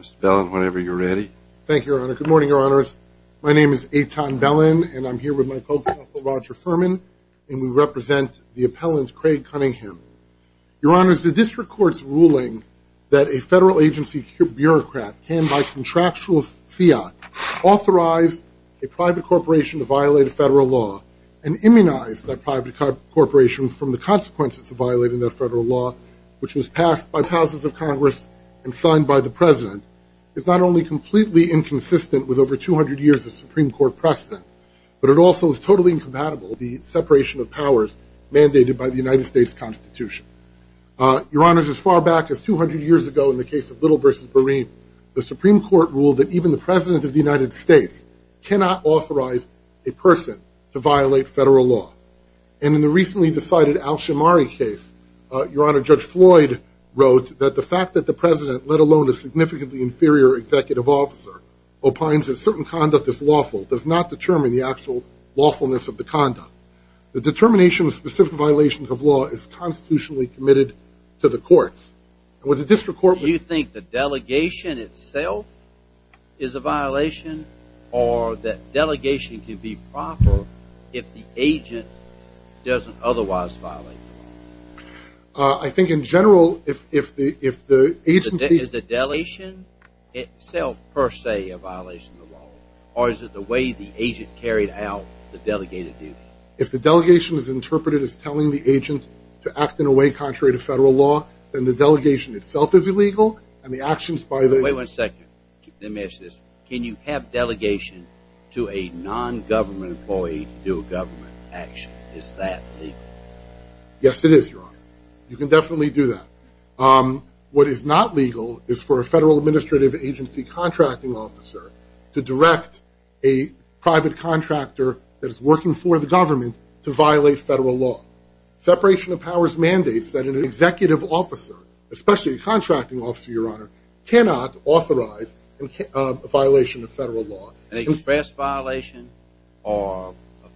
Mr. Bellin, whenever you're ready. Thank you, Your Honor. Good morning, Your Honors. My name is Eitan Bellin, and I'm here with my co-counsel, Roger Furman, and we represent the appellant, Craig Cunningham. Your Honors, the district court's ruling that a federal agency bureaucrat can, by contractual fiat, authorize a private corporation to violate a federal law and immunize that private corporation from the consequences of violating that federal law, which was passed by the Houses of Congress and signed by the President, is not only completely inconsistent with over 200 years of Supreme Court precedent, but it also is totally incompatible with the separation of powers mandated by the United States Constitution. Your Honors, as far back as 200 years ago in the case of Little v. Bereen, the Supreme Court ruled that even the President of the United States cannot authorize a person to violate federal law. And in the recently decided case, Your Honor, Judge Floyd wrote that the fact that the President, let alone a significantly inferior executive officer, opines that certain conduct is lawful does not determine the actual lawfulness of the conduct. The determination of specific violations of law is constitutionally committed to the courts. Do you think the delegation itself is a violation, or that the delegation itself is a violation of the law? I think in general, if the agent... Is the delegation itself, per se, a violation of the law, or is it the way the agent carried out the delegated duty? If the delegation is interpreted as telling the agent to act in a way contrary to federal law, then the delegation itself is illegal, and the actions by the... Wait one second, let me ask this. Can you have delegation to a non-government employee to do a government action? Is that legal? Yes, it is, Your Honor. You can definitely do that. What is not legal is for a federal administrative agency contracting officer to direct a private contractor that is working for the government to violate federal law. Separation of powers mandates that an executive officer, especially a contracting officer, Your Honor, express violation or a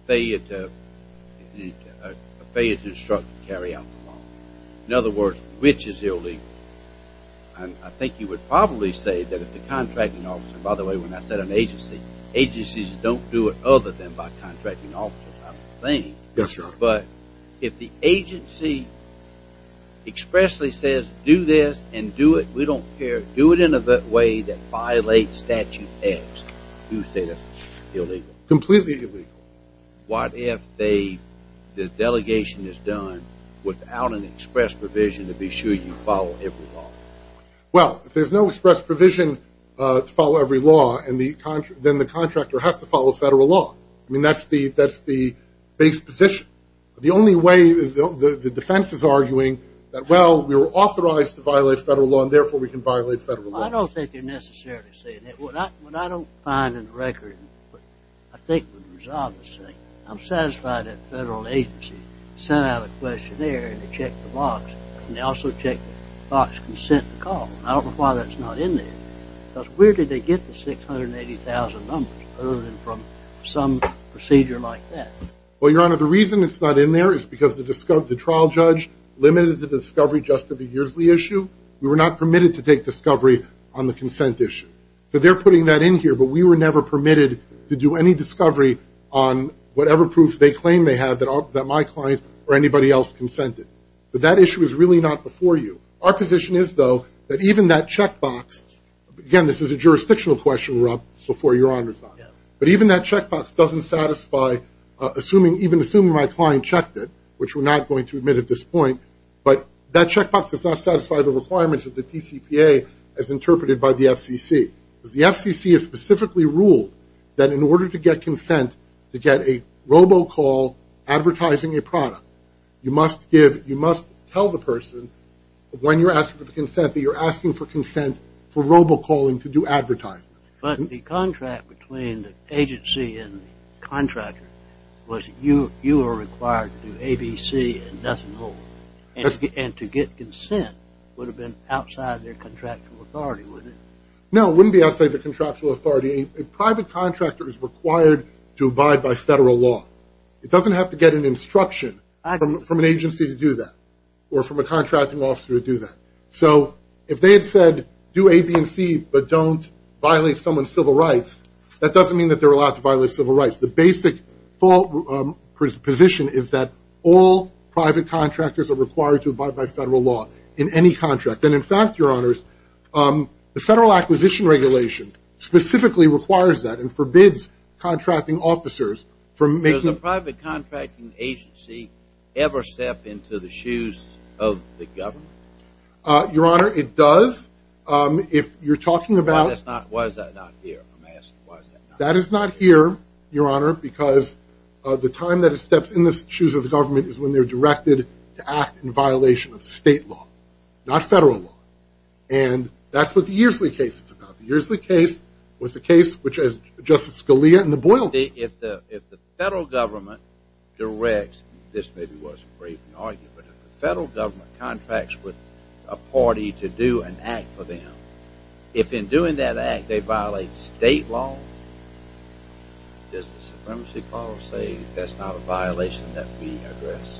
failure to instruct and carry out the law. In other words, which is illegal? And I think you would probably say that if the contracting officer, by the way, when I said an agency, agencies don't do it other than by contracting officers, I don't think. Yes, Your Honor. But if the agency expressly says, do this and do it, we don't care, do it in a way that violates statute X, you say that's illegal? Completely illegal. What if the delegation is done without an express provision to be sure you follow every law? Well, if there's no express provision to follow every law, then the contractor has to follow federal law. I mean, that's the base position. The only way, the defense is arguing that, well, we were authorized to violate federal law and therefore we can violate federal law. Well, I don't think they're necessarily saying that. What I don't find in the record, I think would resound to say, I'm satisfied that a federal agency sent out a questionnaire and they checked the box and they also checked the box consent to call. I don't know why that's not in there. Because where did they get the 680,000 numbers other than from some procedure like that? Well, Your Honor, the reason it's not in there is because the trial judge limited the discovery just to the discovery on the consent issue. So they're putting that in here, but we were never permitted to do any discovery on whatever proof they claim they have that my client or anybody else consented. But that issue is really not before you. Our position is, though, that even that check box, again, this is a jurisdictional question, Rob, before Your Honor's on it. But even that check box doesn't satisfy, even assuming my client checked it, which we're not going to admit at this point, but that check box does not satisfy the requirements of the TCPA as interpreted by the FCC. Because the FCC has specifically ruled that in order to get consent to get a robo-call advertising a product, you must give, you must tell the person when you're asking for the consent that you're asking for consent for robo-calling to do advertisements. But the contract between and to get consent would have been outside their contractual authority, wouldn't it? No, it wouldn't be outside their contractual authority. A private contractor is required to abide by federal law. It doesn't have to get an instruction from an agency to do that or from a contracting officer to do that. So if they had said, do A, B, and C, but don't violate someone's civil rights, that doesn't mean that they're allowed to violate civil rights. The basic full position is that all private contractors are required to abide by federal law in any contract. And in fact, your honors, the federal acquisition regulation specifically requires that and forbids contracting officers from making... Does a private contracting agency ever step into the shoes of the government? Your honor, it does. If you're talking about... Why is that not here? That is not here, your honor, because the time that it steps in the shoes of the government is when they're directed to act in violation of state law, not federal law. And that's what the Earsley case is about. The Earsley case was a case which Justice Scalia and the Boyle... If the federal government directs, this maybe wasn't a great argument, but if the federal government contracts with a party to do an act for them, if in doing that act they violate state law, does the supremacy clause say that's not a violation that we address?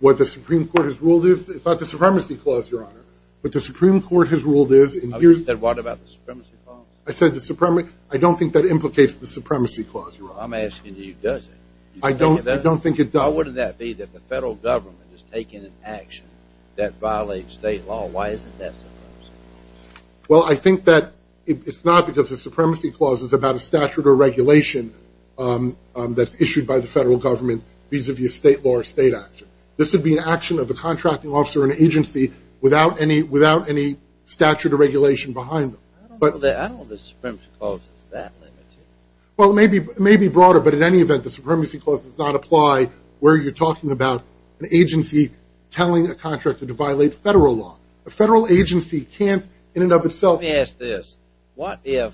What the Supreme Court has ruled is... It's not the supremacy clause, your honor. What the Supreme Court has ruled is... And you said, what about the supremacy clause? I said the supremacy... I don't think that implicates the supremacy clause, your honor. I'm asking you, does it? I don't think it does. Why wouldn't that be that the federal government is taking an action that violates state law? Why isn't that supremacy? Well, I think that it's not because the supremacy clause is about a statute or regulation that's issued by the federal government vis-a-vis state law or state action. This would be an action of a contracting officer or an agency without any statute or regulation behind them. I don't know that... I don't know the supremacy clause is that limited. Well, it may be broader, but in any event, the supremacy clause does not apply where you're talking about an agency telling a contractor to violate federal law. A federal agency can't, in and of itself... Let me ask this. What if...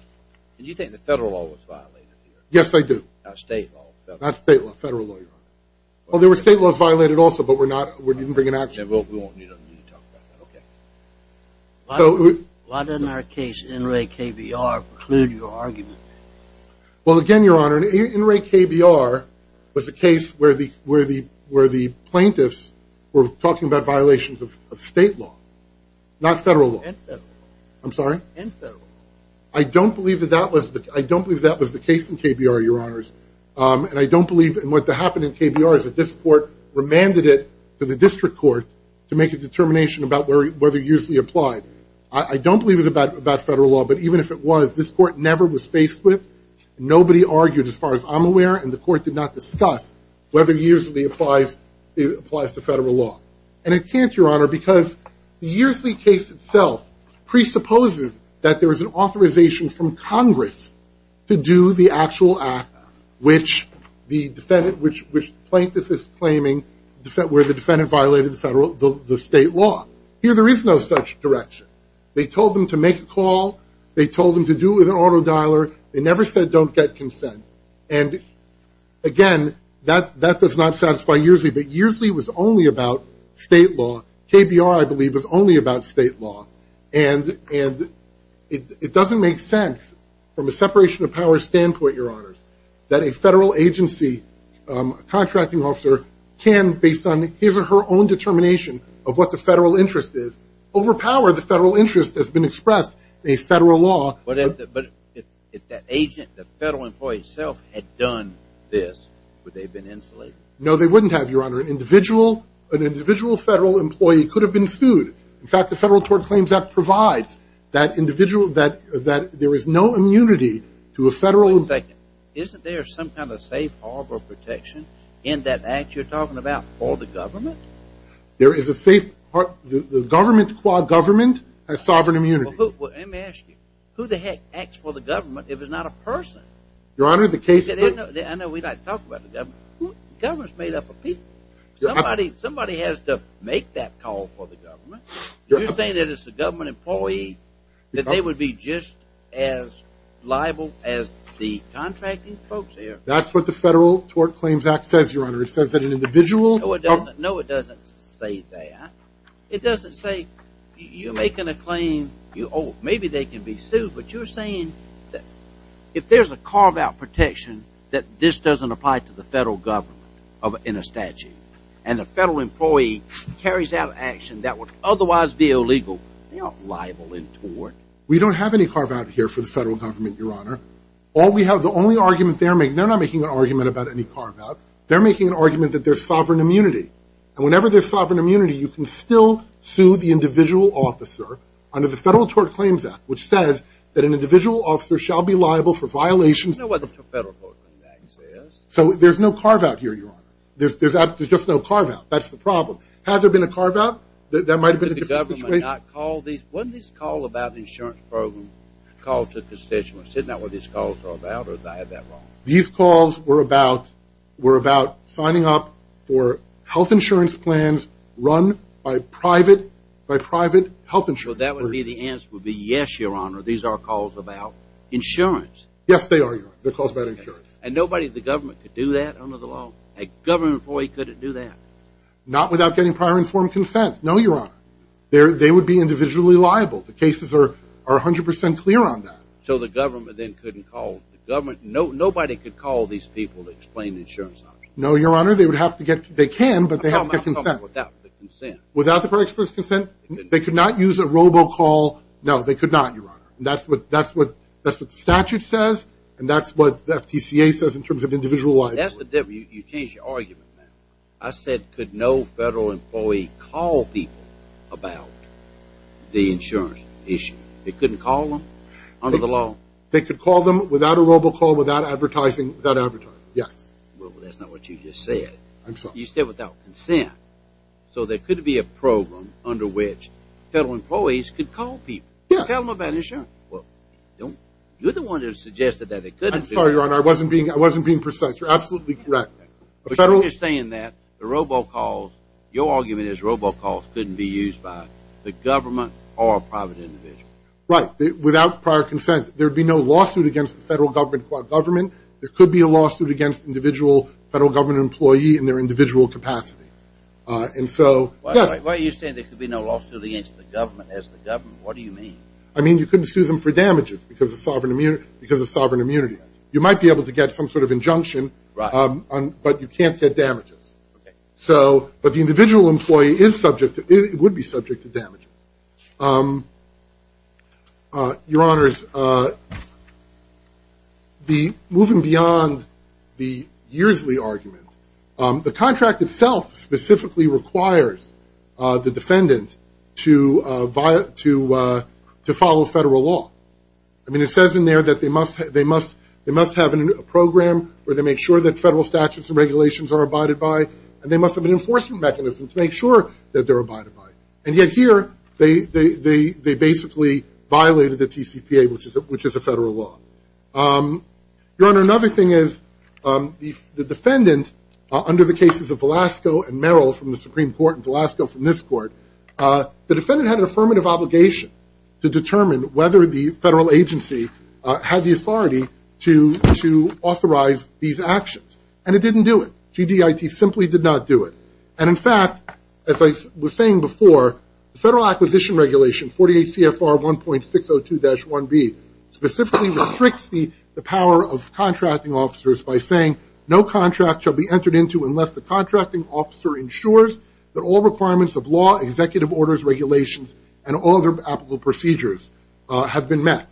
And you think the federal law was violated here? Yes, I do. Not state law. Not state law, federal law, your honor. Well, there were state laws violated also, but we're not... We didn't bring an action... Then we won't need to talk about that. Okay. What in our case, NRA KBR, preclude your argument? Well, again, your honor, NRA KBR was a case where the plaintiffs were talking about violations of state law, not federal law. And federal law. I'm sorry? And federal law. I don't believe that that was the... I don't believe that was the case in KBR, your honors, and I don't believe in what happened in KBR is that this court remanded it to the district court to make a determination about whether it usually applied. I don't believe it's about federal law, but even if it was, this court never was faced with... Nobody argued, as far as I'm aware, and the court did not discuss whether it usually applies to federal law. And it can't, your honor, because the Yearsley case itself presupposes that there was an authorization from Congress to do the actual act which the defendant... Which the plaintiff is claiming where the defendant violated the federal... The state law. Here, there is no such direction. They told them to make a call. They told them to do it with an auto dialer. They never said don't get consent. And again, that does not satisfy Yearsley, but Yearsley was only about state law. KBR, I believe, was only about state law. And it doesn't make sense from a separation of power standpoint, your honor, that a federal agency contracting officer can, based on his or her own determination of what the federal interest is, overpower the federal interest that's been expressed in a federal law. But if that agent, the federal employee itself, had done this, would they have been insulated? No, they wouldn't have, your honor. An individual federal employee could have been sued. In fact, the Federal Tort Claims Act provides that individual that there is no immunity to a federal... Wait a second. Isn't there some kind of safe harbor protection in that act you're talking about for the government? There is a safe... The government, the quad government has sovereign immunity. Well, let me ask you. Who the heck acts for the government if it's not a person? Your honor, the case... I know we like to talk about the government. Government's made up of people. Somebody has to make that call for the government. You're saying that if it's a government employee, that they would be just as liable as the contracting folks here? That's what the Federal Tort Claims Act says, your honor. It says that an individual... No, it doesn't say that. It doesn't say, you're making a claim. Oh, maybe they can be sued. But you're saying that if there's a carve-out protection, that this doesn't apply to the federal government in a statute. And the federal employee carries out action that would otherwise be illegal. They aren't liable in tort. We don't have any carve-out here for the federal government, your honor. All we have... The only argument they're making... They're not making an argument about any carve-out. They're making an argument that there's sovereign immunity. And whenever there's sovereign immunity, you can still sue the individual officer under the Federal Tort Claims Act, which says that an individual officer shall be liable for violations... You know what the Federal Tort Claims Act says? So there's no carve-out here, your honor. There's just no carve-out. That's the problem. Had there been a carve-out, that might have been a different situation. Would the government not call these... Wasn't this call about the insurance program called to constituents? Isn't that what these calls are about, or did I have that wrong? These calls were about signing up for health insurance plans run by private health insurers. That would be the answer would be yes, your honor. These are calls about insurance. Yes, they are, your honor. They're calls about insurance. And nobody in the government could do that under the law? A government employee couldn't do that? Not without getting prior informed consent? No, your honor. They would be individually liable. The cases are 100% clear on that. So the government then couldn't call? Nobody could call these people to explain the insurance? No, your honor. They would have to get... They can, but they have to get consent. Without the consent? Without the express consent? They could not use a robocall? No, they could not, your honor. And that's what the statute says, and that's what the FTCA says in terms of individual liability. You changed your argument, man. I said, could no federal employee call people about the insurance issue? They couldn't call them under the law? They could call them without a robocall, without advertising, without advertising. Yes. Well, that's not what you just said. I'm sorry. You said without consent. So there could be a program under which federal employees could call people and tell them about insurance. Well, you're the one who suggested that it couldn't be. I'm sorry, your honor. I wasn't being precise. You're absolutely correct. But you're saying that the robocalls, your argument is robocalls couldn't be used by the government or a private individual. Right. Without prior consent, there'd be no lawsuit against the federal government government. There could be a lawsuit against individual federal government employee in their individual capacity. And so... Why are you saying there could be no lawsuit against the government as the government? What do you mean? I mean, you couldn't sue them for damages because of sovereign immunity. You might be able to get some sort of injunction, but you can't get damages. So, but the individual employee is subject to, it would be subject to damages. Your honors, moving beyond the Yearsley argument, the contract itself specifically requires the defendant to follow federal law. I mean, it says in there that they must, they must, they must have a program where they make sure that federal statutes and regulations are abided by, and they must have an enforcement mechanism to make sure that they're abided by. And yet here, they basically violated the TCPA, which is a federal law. Your honor, another thing is the defendant under the cases of Velasco and Merrill from the Supreme Court and Velasco from this court, the defendant had an affirmative obligation to determine whether the federal agency had the authority to authorize these actions. And it didn't do it. GDIT simply did not do it. And in fact, as I was saying before, the Federal Acquisition Regulation 48 CFR 1.602-1B specifically restricts the power of contracting officers by saying no contract shall be entered into unless the contracting officer ensures that all requirements of law, executive orders, regulations, and all other applicable procedures have been met.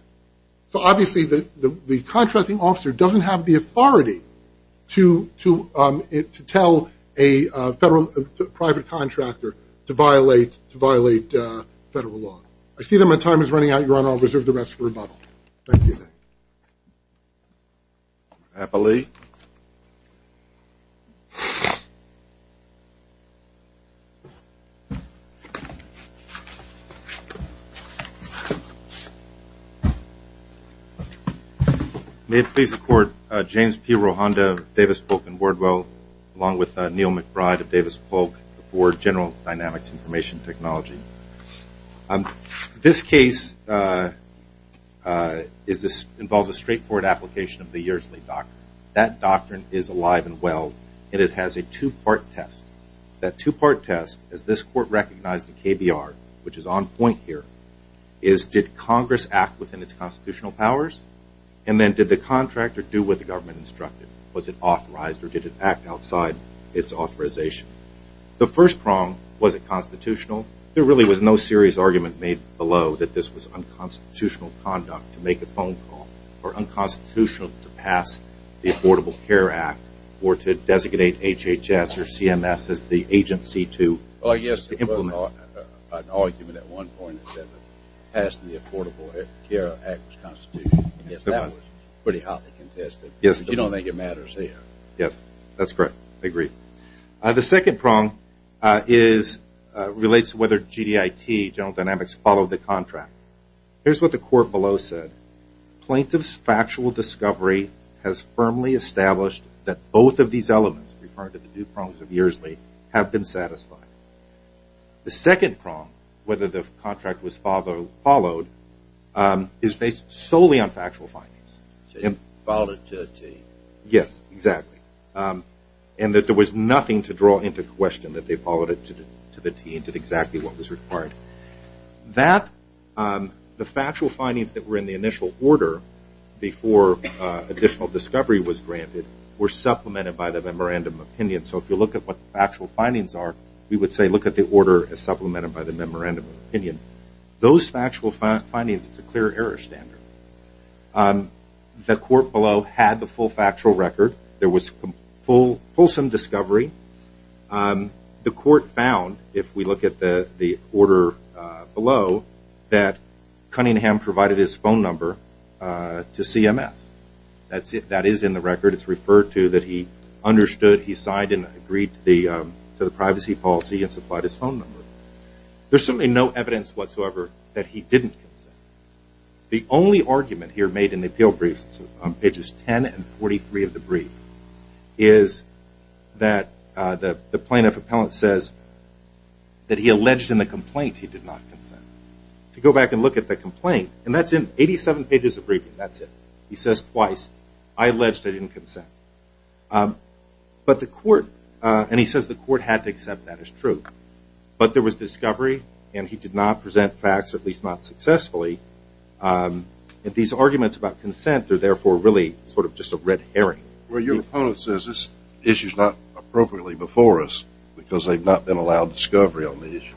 So obviously, the contracting officer doesn't have the authority to tell a private contractor to violate federal law. I see that my time is running out, I'll reserve the rest for rebuttal. Thank you. Happily. May it please the court, James P. Rohanda, Davis Polk and Wardwell, along with Neil McBride of KBR. This involves a straightforward application of the Yersley Doctrine. That doctrine is alive and well, and it has a two-part test. That two-part test, as this court recognized in KBR, which is on point here, is did Congress act within its constitutional powers? And then did the contractor do what the government instructed? Was it authorized, or did it act outside its authorization? The first prong, was it constitutional? There really was no serious argument made below that this was unconstitutional conduct to make a phone call, or unconstitutional to pass the Affordable Care Act, or to designate HHS or CMS as the agency to implement. Yes, there was an argument at one point that passed the Affordable Care Act was constitutional. Yes, that was pretty hotly contested, but you don't think it matters here. Yes, that's correct. I agree. The second prong relates to whether GDIT, General Dynamics, followed the contract. Here's what the court below said. Plaintiff's factual discovery has firmly established that both of these elements, referred to the two prongs of Yersley, have been satisfied. The second prong, whether the contract was followed, is based solely on factual findings. So they followed it to a T. Yes, exactly. And that there was nothing to draw into question, that they followed it to the T and did exactly what was required. The factual findings that were in the initial order, before additional discovery was granted, were supplemented by the memorandum of opinion. So if you look at what the factual findings are, we would say, look at the order as supplemented by the memorandum of opinion. Those factual findings, it's a clear error standard. The court below had the full factual record. There was fulsome discovery. The court found, if we look at the order below, that Cunningham provided his phone number to CMS. That is in the record. It's referred to that he understood, he signed and agreed to the privacy policy and supplied his phone number. There's certainly no evidence that he didn't consent. The only argument here made in the appeal briefs, on pages 10 and 43 of the brief, is that the plaintiff appellant says that he alleged in the complaint he did not consent. To go back and look at the complaint, and that's in 87 pages of briefing, that's it. He says twice, I alleged I didn't consent. But the court, and he says the court had to accept that as true. But there was discovery, and he did not present facts, at least not successfully. These arguments about consent are therefore really sort of just a red herring. Well, your opponent says this issue is not appropriately before us, because they've not been allowed discovery on the issue.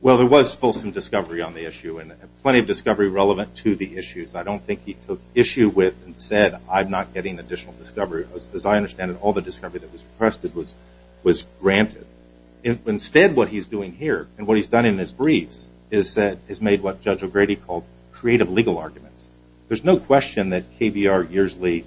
Well, there was fulsome discovery on the issue, and plenty of discovery relevant to the issues. I don't think he took issue with and said I'm not getting additional discovery. As I understand it, the discovery that was requested was granted. Instead, what he's doing here, and what he's done in his briefs, is made what Judge O'Grady called creative legal arguments. There's no question that KBR, Yearsley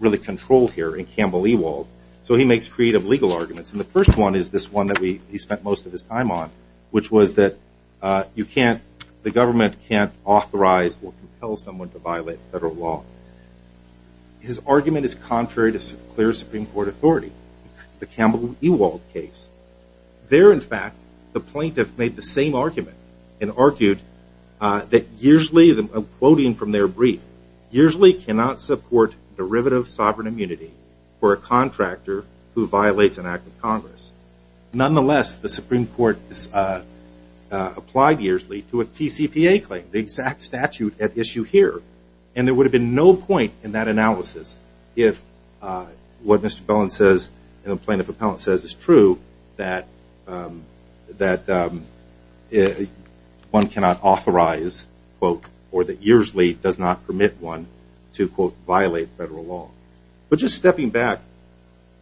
really controlled here, and Campbell Ewald. So he makes creative legal arguments, and the first one is this one that he spent most of his time on, which was that the government can't authorize or compel someone to violate federal law. His argument is contrary to clear Supreme Court authority, the Campbell Ewald case. There, in fact, the plaintiff made the same argument, and argued that Yearsley, quoting from their brief, Yearsley cannot support derivative sovereign immunity for a contractor who violates an act of Congress. Nonetheless, the Supreme Court applied Yearsley to a TCPA claim, the exact statute at issue here, and there would have been no point in that analysis if what Mr. Bellin says and the plaintiff appellant says is true, that one cannot authorize, quote, or that Yearsley does not permit one to, quote, violate federal law. But just stepping back,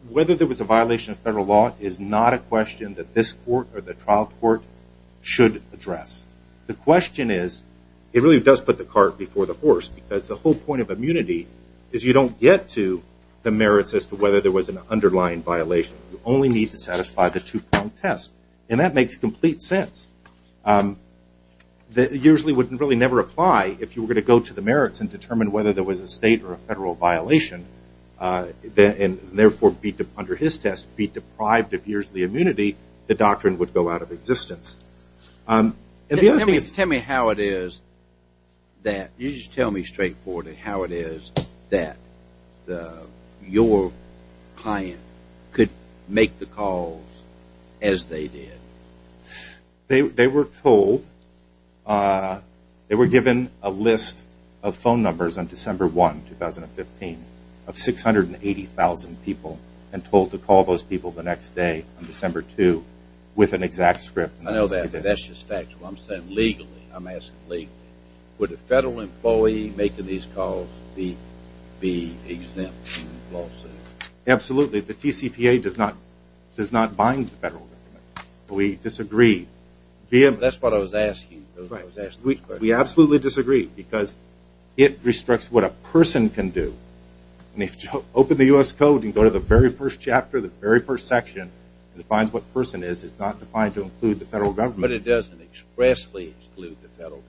whether there was a violation of federal law is not a question that the trial court should address. The question is, it really does put the cart before the horse, because the whole point of immunity is you don't get to the merits as to whether there was an underlying violation. You only need to satisfy the two-prong test, and that makes complete sense. Yearsley would really never apply if you were going to go to the merits and determine whether there was a state or a federal violation, and therefore, under his test, be deprived of Yearsley immunity, the doctrine would go out of existence. Tell me how it is that your client could make the calls as they did. They were told, they were given a list of phone numbers on December 1, 2015, of 680,000 people and told to call those people the next day on December 2 with an exact script. I know that, but that's just factual. I'm saying legally, I'm asking legally. Would a federal employee making these calls be exempt from the lawsuit? Absolutely. The TCPA does not bind the federal government. We disagree. That's what I was asking. We absolutely disagree because it restricts what a person can do. And if you open the U.S. Code and go to the very first chapter, the very first section, it defines what a person is. It's not defined to include the federal government. But it doesn't expressly include the federal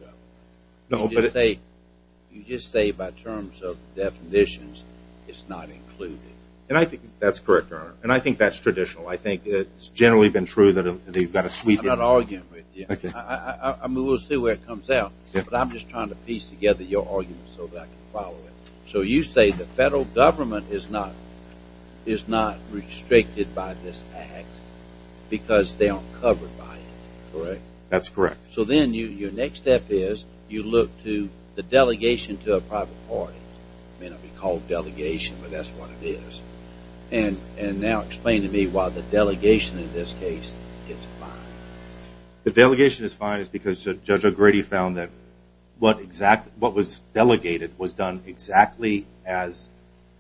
government. You just say by terms of definitions, it's not included. And I think that's correct, Your Honor, and I think that's traditional. I think it's generally been true that they've got a sweet... I'm not arguing with you. I mean, we'll see where it comes out, but I'm just trying to piece together your argument so that I can follow it. So you say the federal government is not restricted by this act because they aren't covered by it, correct? That's correct. So then your next step is you look to the delegation to a private party. It may not be called delegation, but that's what it is. And now explain to me why the delegation in this case is fine. The delegation is fine because Judge O'Grady found that what was delegated was done exactly as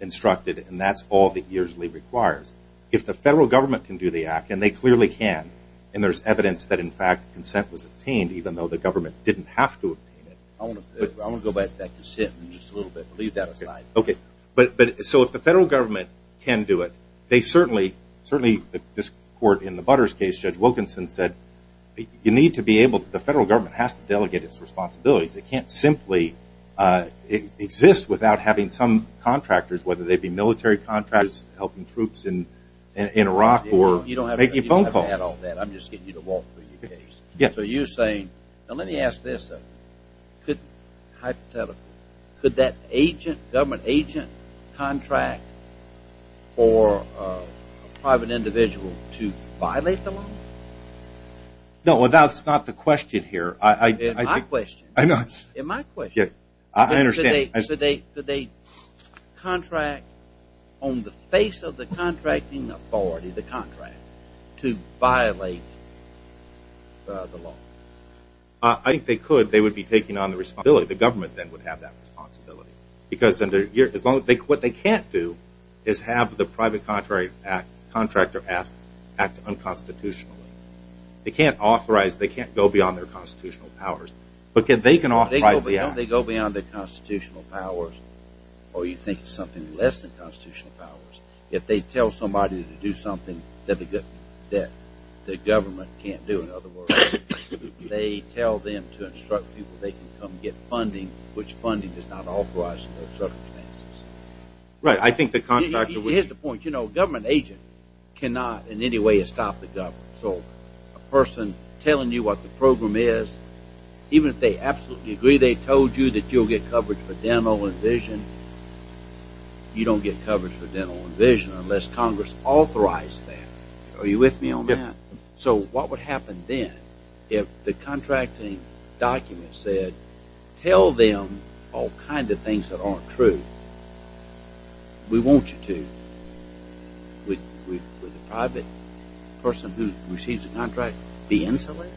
instructed, and that's all that usually requires. If the federal government can do the act, and they clearly can, and there's evidence that, in fact, consent was obtained even though the government didn't have to obtain it... I want to go back to that consent in just a little bit. Leave that aside. Okay. So if the federal government can do it, they certainly, certainly this court in the you need to be able, the federal government has to delegate its responsibilities. It can't simply exist without having some contractors, whether they be military contractors helping troops in Iraq or making phone calls. You don't have to add all that. I'm just getting you to walk through your case. Yeah. So you're saying, now let me ask this, hypothetically, could that agent, government contract for a private individual to violate the law? No, that's not the question here. It's my question. I know. It's my question. Yeah. I understand. Could they contract on the face of the contracting authority, the contractor, to violate the law? I think they could. They would be taking on the responsibility. The government then would have that responsibility. Because what they can't do is have the private contractor act unconstitutionally. They can't authorize, they can't go beyond their constitutional powers. But they can authorize the act. Don't they go beyond their constitutional powers or you think it's something less than constitutional powers? If they tell somebody to do something that the government can't do, in other words, they tell them to instruct people, they can come get funding, which funding does not authorize those circumstances. Right. I think the contractor would... Here's the point. A government agent cannot in any way stop the government. So a person telling you what the program is, even if they absolutely agree they told you that you'll get coverage for dental and vision, you don't get coverage for dental and vision unless Congress authorized that. Are you with me on that? Yeah. What would happen then if the contracting document said, tell them all kinds of things that aren't true? We want you to. Would the private person who received the contract be insulated?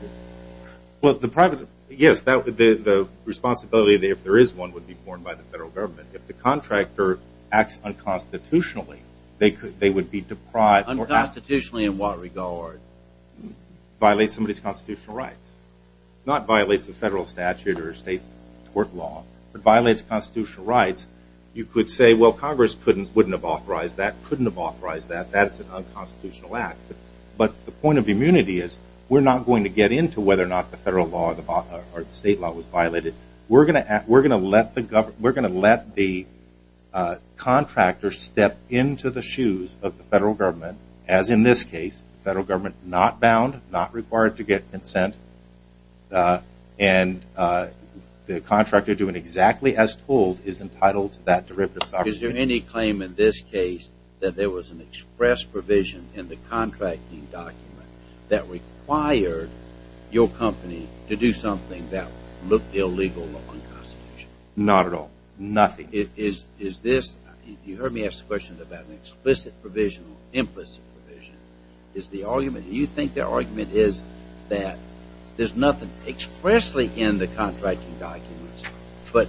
Well, the private... Yes, the responsibility if there is one would be borne by the federal government. If the contractor acts unconstitutionally, they would be deprived... Unconstitutionally in what regard? Violates somebody's constitutional rights. Not violates the federal statute or state court law, but violates constitutional rights. You could say, well, Congress wouldn't have authorized that, couldn't have authorized that, that's an unconstitutional act. But the point of immunity is we're not going to get into whether or not the federal law or the state law was violated. We're going to let the contractor step into the shoes of the federal government, as in this case, the federal government not bound, not required to get consent. And the contractor doing exactly as told is entitled to that derivative sovereignty. Is there any claim in this case that there was an express provision in the contracting document that required your company to do something that looked illegal or unconstitutional? Not at all. Nothing. Is this... You heard me ask the question about an explicit provision or implicit provision. Is the argument... Do you think their argument is that there's nothing expressly in the contracting documents, but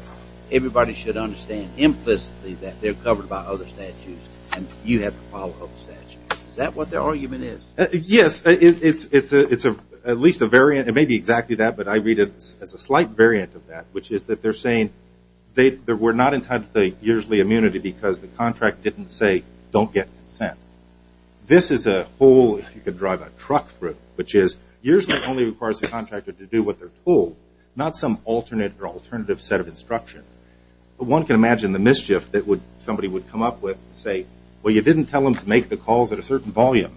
everybody should understand implicitly that they're covered by other statutes and you have to follow other statutes? Is that what their argument is? Yes. It's at least a variant. It may be exactly that, but I read it as a slight variant of that, which is that they're saying they were not entitled to the usually immunity because the contract didn't say don't get consent. This is a whole... You could drive a truck through it, which is usually only requires the contractor to do what they're told, not some alternate or alternative set of instructions. One can imagine the mischief that somebody would come up with and say, well, you didn't tell them to make the calls at a certain volume.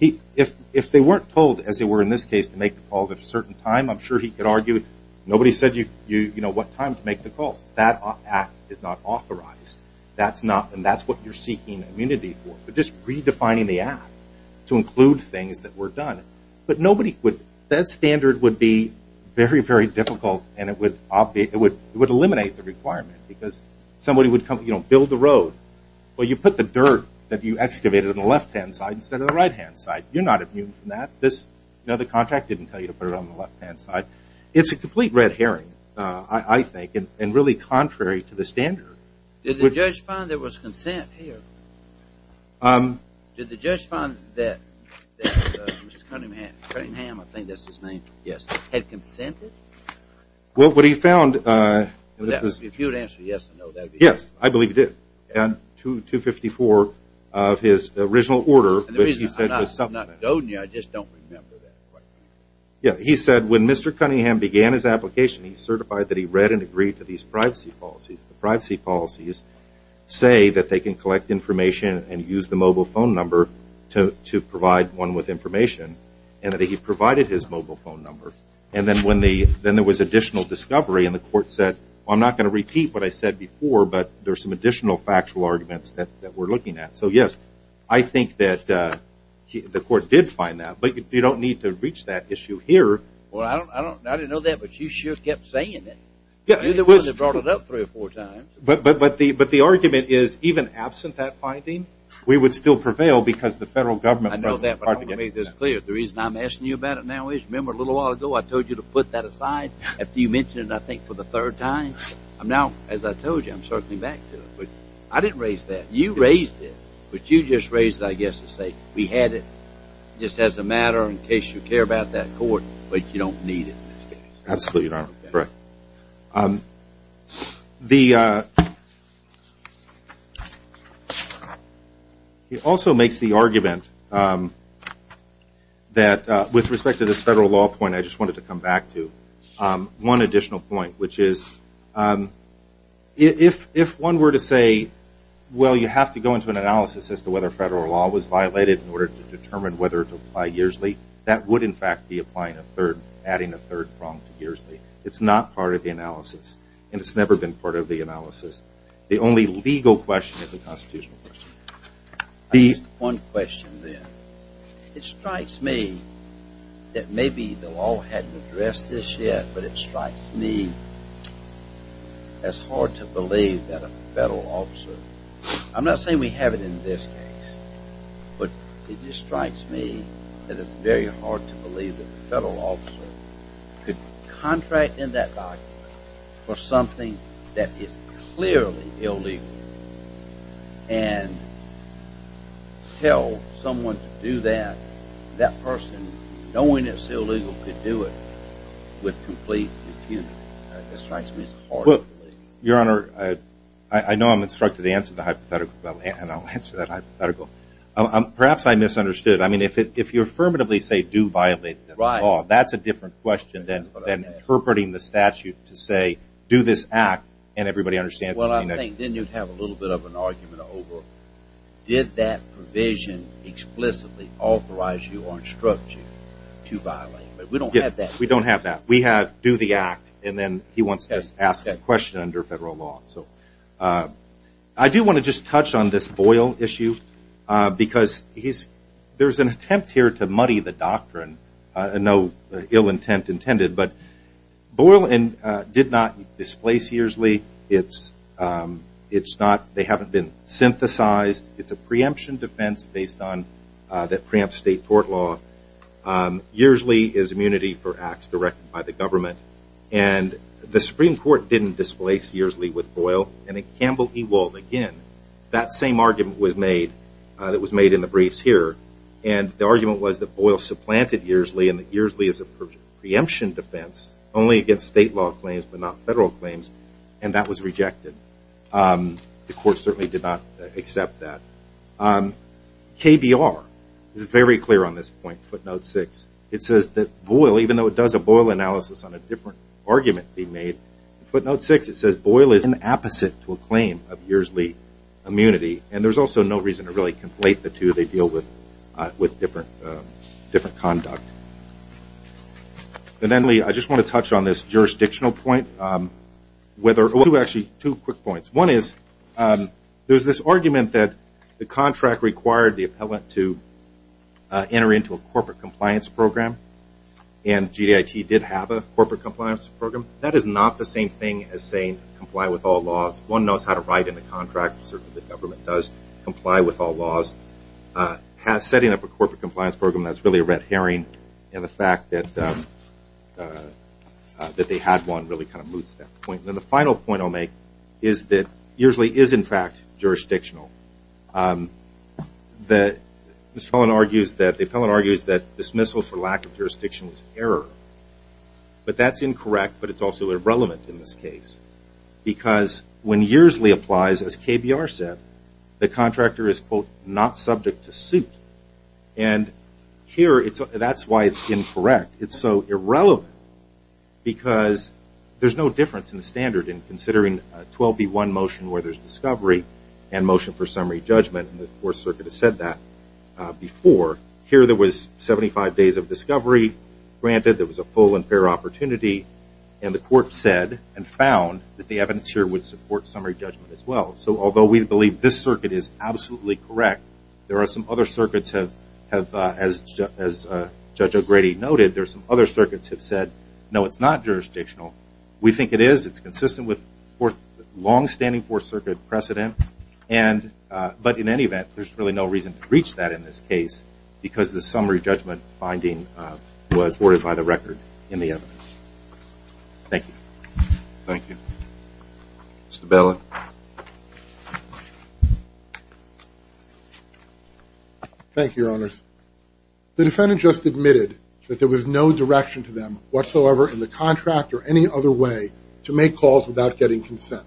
If they weren't told, as they were in this case, to make the calls at a certain time, I'm sure he could argue, nobody said what time to make the calls. That act is not authorized. That's not... And that's what you're seeking immunity for, but just redefining the act to include things that were done. But nobody would... That standard would be very, very difficult and it would eliminate the requirement because somebody would come... Build the road. Well, you put the dirt that you excavated on the left-hand side instead of the right-hand side. You're not immune from that. The contract didn't tell you to put it on the left-hand side. It's a complete red herring, I think, and really contrary to the standard. Did the judge find there was consent here? Did the judge find that Mr. Cunningham, I think that's his name, yes, had consented? Well, what he found... If you would answer yes or no, that would be... Yes, I believe he did. And 254 of his original order, which he said was supplemented. I'm not doding you. I just don't remember that. Yeah, he said when Mr. Cunningham began his application, he certified that he read and agreed to these privacy policies. The privacy policies say that they can collect information and use the mobile phone number to provide one with information and that he provided his mobile phone number. And then when the... Then there was additional discovery and the court said, well, I'm not going to repeat what I said before, but there's some additional factual arguments that we're looking at. So yes, I think that the court did find that, but you don't need to reach that issue here. Well, I didn't know that, but you sure kept saying it. Yeah, it was... You brought it up three or four times. But the argument is even absent that finding, we would still prevail because the federal government... I know that, but I want to make this clear. The reason I'm asking you about it now is remember a little while ago, I told you to put that aside after you mentioned it, I think, for the third time. I'm now, as I told you, I'm circling back to it, but I didn't raise that. You raised it, but you just raised it, I guess, to say we had it just as a matter in case you care about that court, but you don't need it in this case. Absolutely, Your Honor. Correct. It also makes the argument that with respect to this federal law point, I just wanted to come back to one additional point, which is if one were to say, well, you have to go into an analysis as to whether federal law was violated in order to determine whether to apply yearsly, that would, in fact, be adding a third prong to yearsly. It's not part of the analysis, and it's never been part of the analysis. The only legal question is a constitutional question. One question, then. It strikes me that maybe the law hadn't addressed this yet, but it strikes me as hard to believe that a federal officer, I'm not saying we have it in this case, but it just strikes me that it's very hard to believe that a federal officer could contract in that document for something that is clearly illegal and tell someone to do that, that person, knowing it's illegal, could do it with complete impunity. That strikes me as hard to believe. Your Honor, I know I'm instructed to answer the hypothetical, and I'll answer that hypothetical. Perhaps I misunderstood. I mean, if you affirmatively say do violate the law, that's a different question than interpreting the statute to say do this act, and everybody understands what I mean. Well, I think then you'd have a little bit of an argument over did that provision explicitly authorize you or instruct you to violate? But we don't have that. We don't have that. We have do the act, and then he wants to ask the question under federal law. So I do want to just touch on this Boyle issue because there's an attempt here to muddy the doctrine. No ill intent intended, but Boyle did not displace Earsley. They haven't been synthesized. It's a preemption defense based on that preempt state court law. Earsley is immunity for acts directed by the government, and the Supreme Court didn't displace Earsley with Boyle, and in Campbell v. Wald, again, that same argument was made. It was made in Boyle supplanted Earsley, and Earsley is a preemption defense only against state law claims but not federal claims, and that was rejected. The court certainly did not accept that. KBR is very clear on this point, footnote 6. It says that Boyle, even though it does a Boyle analysis on a different argument being made, footnote 6, it says Boyle is an apposite to a claim of Earsley immunity, and there's also no reason to really conflate the two. They deal with different conduct. And then, Lee, I just want to touch on this jurisdictional point. Actually, two quick points. One is there's this argument that the contract required the appellant to enter into a corporate compliance program, and GDIT did have a corporate compliance program. That is not the same thing as saying comply with all laws. One knows how to write in the contract, and certainly the government does comply with all laws. Setting up a corporate compliance program, that's really a red herring, and the fact that they had one really kind of moots that point. And the final point I'll make is that Earsley is, in fact, jurisdictional. The appellant argues that dismissal for lack of jurisdiction is error, but that's incorrect, but it's also irrelevant in this case, because when Earsley applies, as KBR said, the contractor is, quote, not subject to suit. And here, that's why it's incorrect. It's so irrelevant, because there's no difference in the standard in considering a 12B1 motion where there's discovery and motion for summary judgment, and the Fourth Circuit has said that before. Here, there was 75 days of discovery. Granted, there was a full and fair opportunity, and the court said and found that the evidence here would support summary judgment as well. So although we believe this circuit is absolutely correct, there are some other circuits have, as Judge O'Grady noted, there are some other circuits have said, no, it's not jurisdictional. We think it is. It's consistent with longstanding Fourth Circuit precedent, but in any event, there's really no reason to reach that in this case, because the summary judgment finding was ordered by the record in the evidence. Thank you. Thank you. Mr. Belin. Thank you, Your Honors. The defendant just admitted that there was no direction to them whatsoever in the contract or any other way to make calls without getting consent.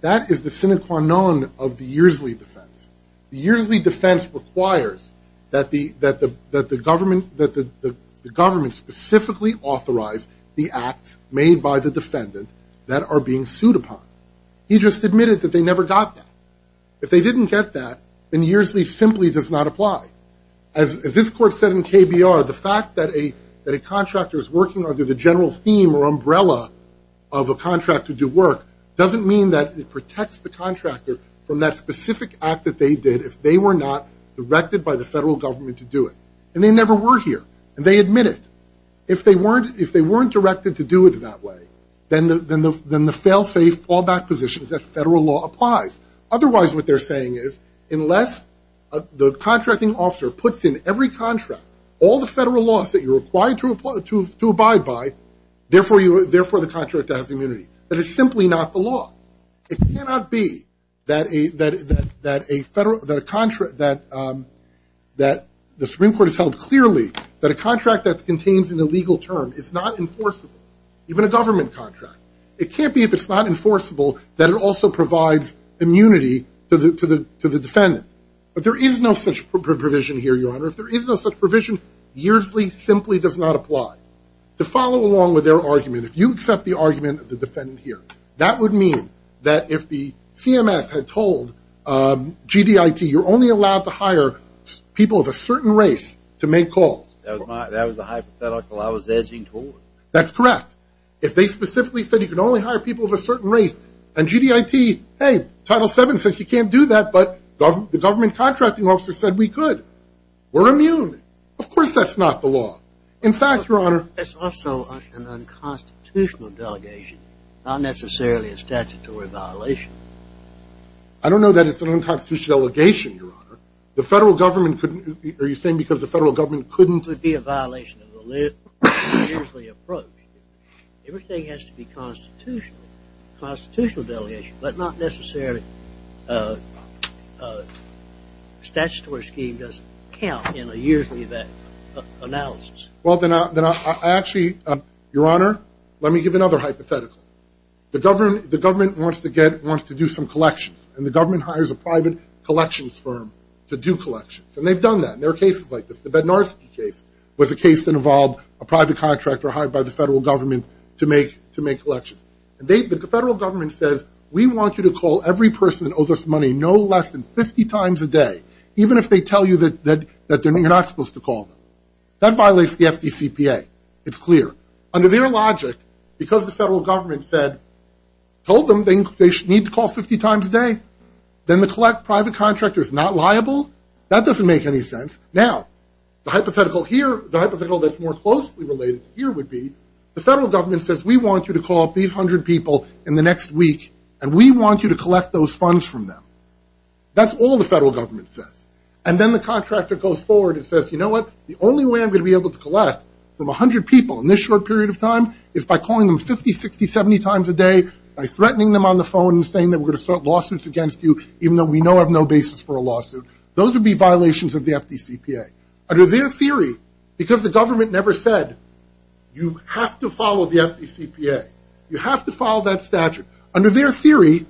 That is the sine qua non of the Yearsley defense. The Yearsley defense requires that the government specifically authorize the acts made by the defendant that are being sued upon. He just admitted that they never got that. If they didn't get that, then Yearsley simply does not apply. As this court said in KBR, the fact that a contractor is working under the general theme or umbrella of a contract to do work doesn't mean that it protects the contractor from that specific act that they did if they were not directed by the federal government to do it. And they never were here. And they admit it. If they weren't directed to do it that way, then the fail-safe fallback position is that federal law applies. Otherwise, what they're saying is, unless the contracting officer puts in every contract, all the federal laws that you're required to abide by, therefore, the contractor has immunity. That is simply not the law. It cannot be that the Supreme Court has held clearly that a contract that contains an illegal term is not enforceable, even a government contract. It can't be if it's not enforceable that it also provides immunity to the defendant. But there is no such provision here, Your Honor. If there is no such provision, Yearsley simply does not apply. To follow along with their argument, if you accept the argument of the defendant here, that would mean that if the CMS had told GDIT, you're only allowed to hire people of a certain race to make calls. That was a hypothetical I was edging toward. That's correct. If they specifically said you can only hire people of a certain race and GDIT, hey, Title VII says you can't do that, but the government contracting officer said we could. We're immune. Of course that's not the law. In fact, Your Honor, It's also an unconstitutional delegation, not necessarily a statutory violation. I don't know that it's an unconstitutional delegation, Your Honor. The federal government couldn't, are you saying because the federal government couldn't be a violation of the Yearsley approach, everything has to be constitutional, constitutional delegation, but not necessarily a statutory scheme doesn't count in a Yearsley analysis. Well then I actually, Your Honor, let me give another hypothetical. The government wants to get, wants to do some collections, and the government hires a private collections firm to do collections, and they've done that. There are cases like this. The Bednarski case was a case that involved a private contractor hired by the federal government to make collections. The federal government says we want you to call every person that owes us money no less than 50 times a day, even if they tell you that you're not supposed to call them. That violates the FDCPA. It's clear. Under their logic, because the federal government said, told them they need to call 50 times a day, then the private contractor is not liable. That doesn't make any sense. Now, the hypothetical here, the hypothetical that's more closely related to here would be, the federal government says we want you to call up these 100 people in the next week, and we want you to collect those funds from them. That's all the federal government says. And then the contractor goes forward and says, you know what, the only way I'm going to be able to collect from 100 people in this short period of time is by calling them 50, 60, 70 times a day, by threatening them on the phone and saying that we're going to start lawsuits against you, even though we know have no basis for a lawsuit. Those would be violations of the FDCPA. Under their theory, because the government never said, you have to follow the FDCPA. You have to follow that statute. Under their theory,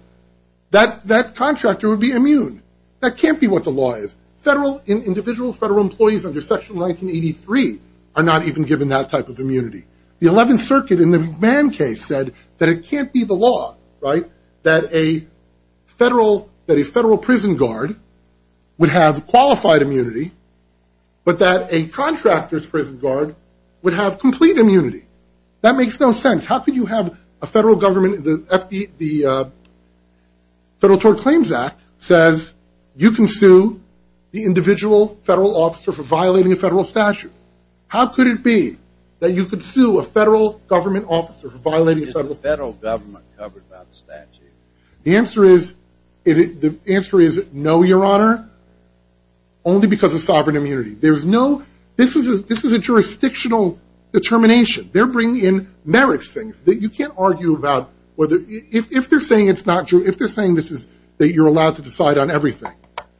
that contractor would be immune. That can't be what the law is. Federal, individual federal employees under Section 1983 are not even given that type of immunity. The 11th Circuit in the McMahon case said that it can't be the law, right, that a federal, that a federal prison guard would have qualified immunity, but that a contractor's prison guard would have complete immunity. That makes no sense. How could you have a federal government, the Federal Tort Claims Act says you can sue the individual federal officer for violating a Is the federal government covered by the statute? The answer is no, your honor, only because of sovereign immunity. There's no, this is a jurisdictional determination. They're bringing in merits things that you can't argue about whether, if they're saying it's not true, if they're saying this is, that you're allowed to decide on everything.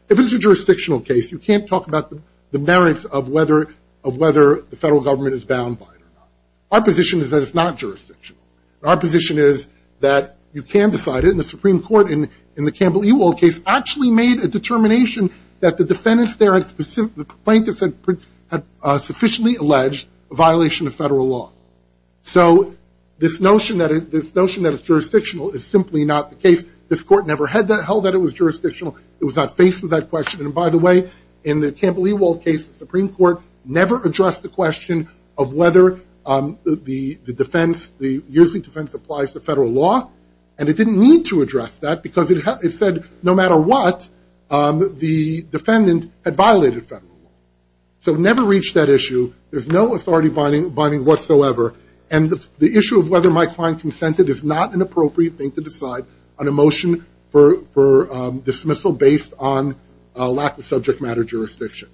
If it's a jurisdictional case, you can't talk about the merits of whether the federal government is bound by it or not. Our position is that it's not jurisdictional. Our position is that you can decide it, and the Supreme Court in the Campbell-Ewald case actually made a determination that the defendants there had, the plaintiffs had sufficiently alleged a violation of federal law. So this notion that it's jurisdictional is simply not the case. This court never held that it was jurisdictional. It was not faced with that question, and by the way, in the Campbell-Ewald case, the Supreme Court never addressed the question of whether the defense, the years of defense applies to federal law, and it didn't need to address that because it said no matter what, the defendant had violated federal law. So it never reached that issue. There's no authority binding whatsoever, and the issue of whether Mike Klein consented is not an appropriate thing to decide on a lack of subject matter jurisdiction.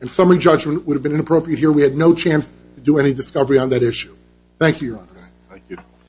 And summary judgment would have been inappropriate here. We had no chance to do any discovery on that issue. Thank you, Your Honors.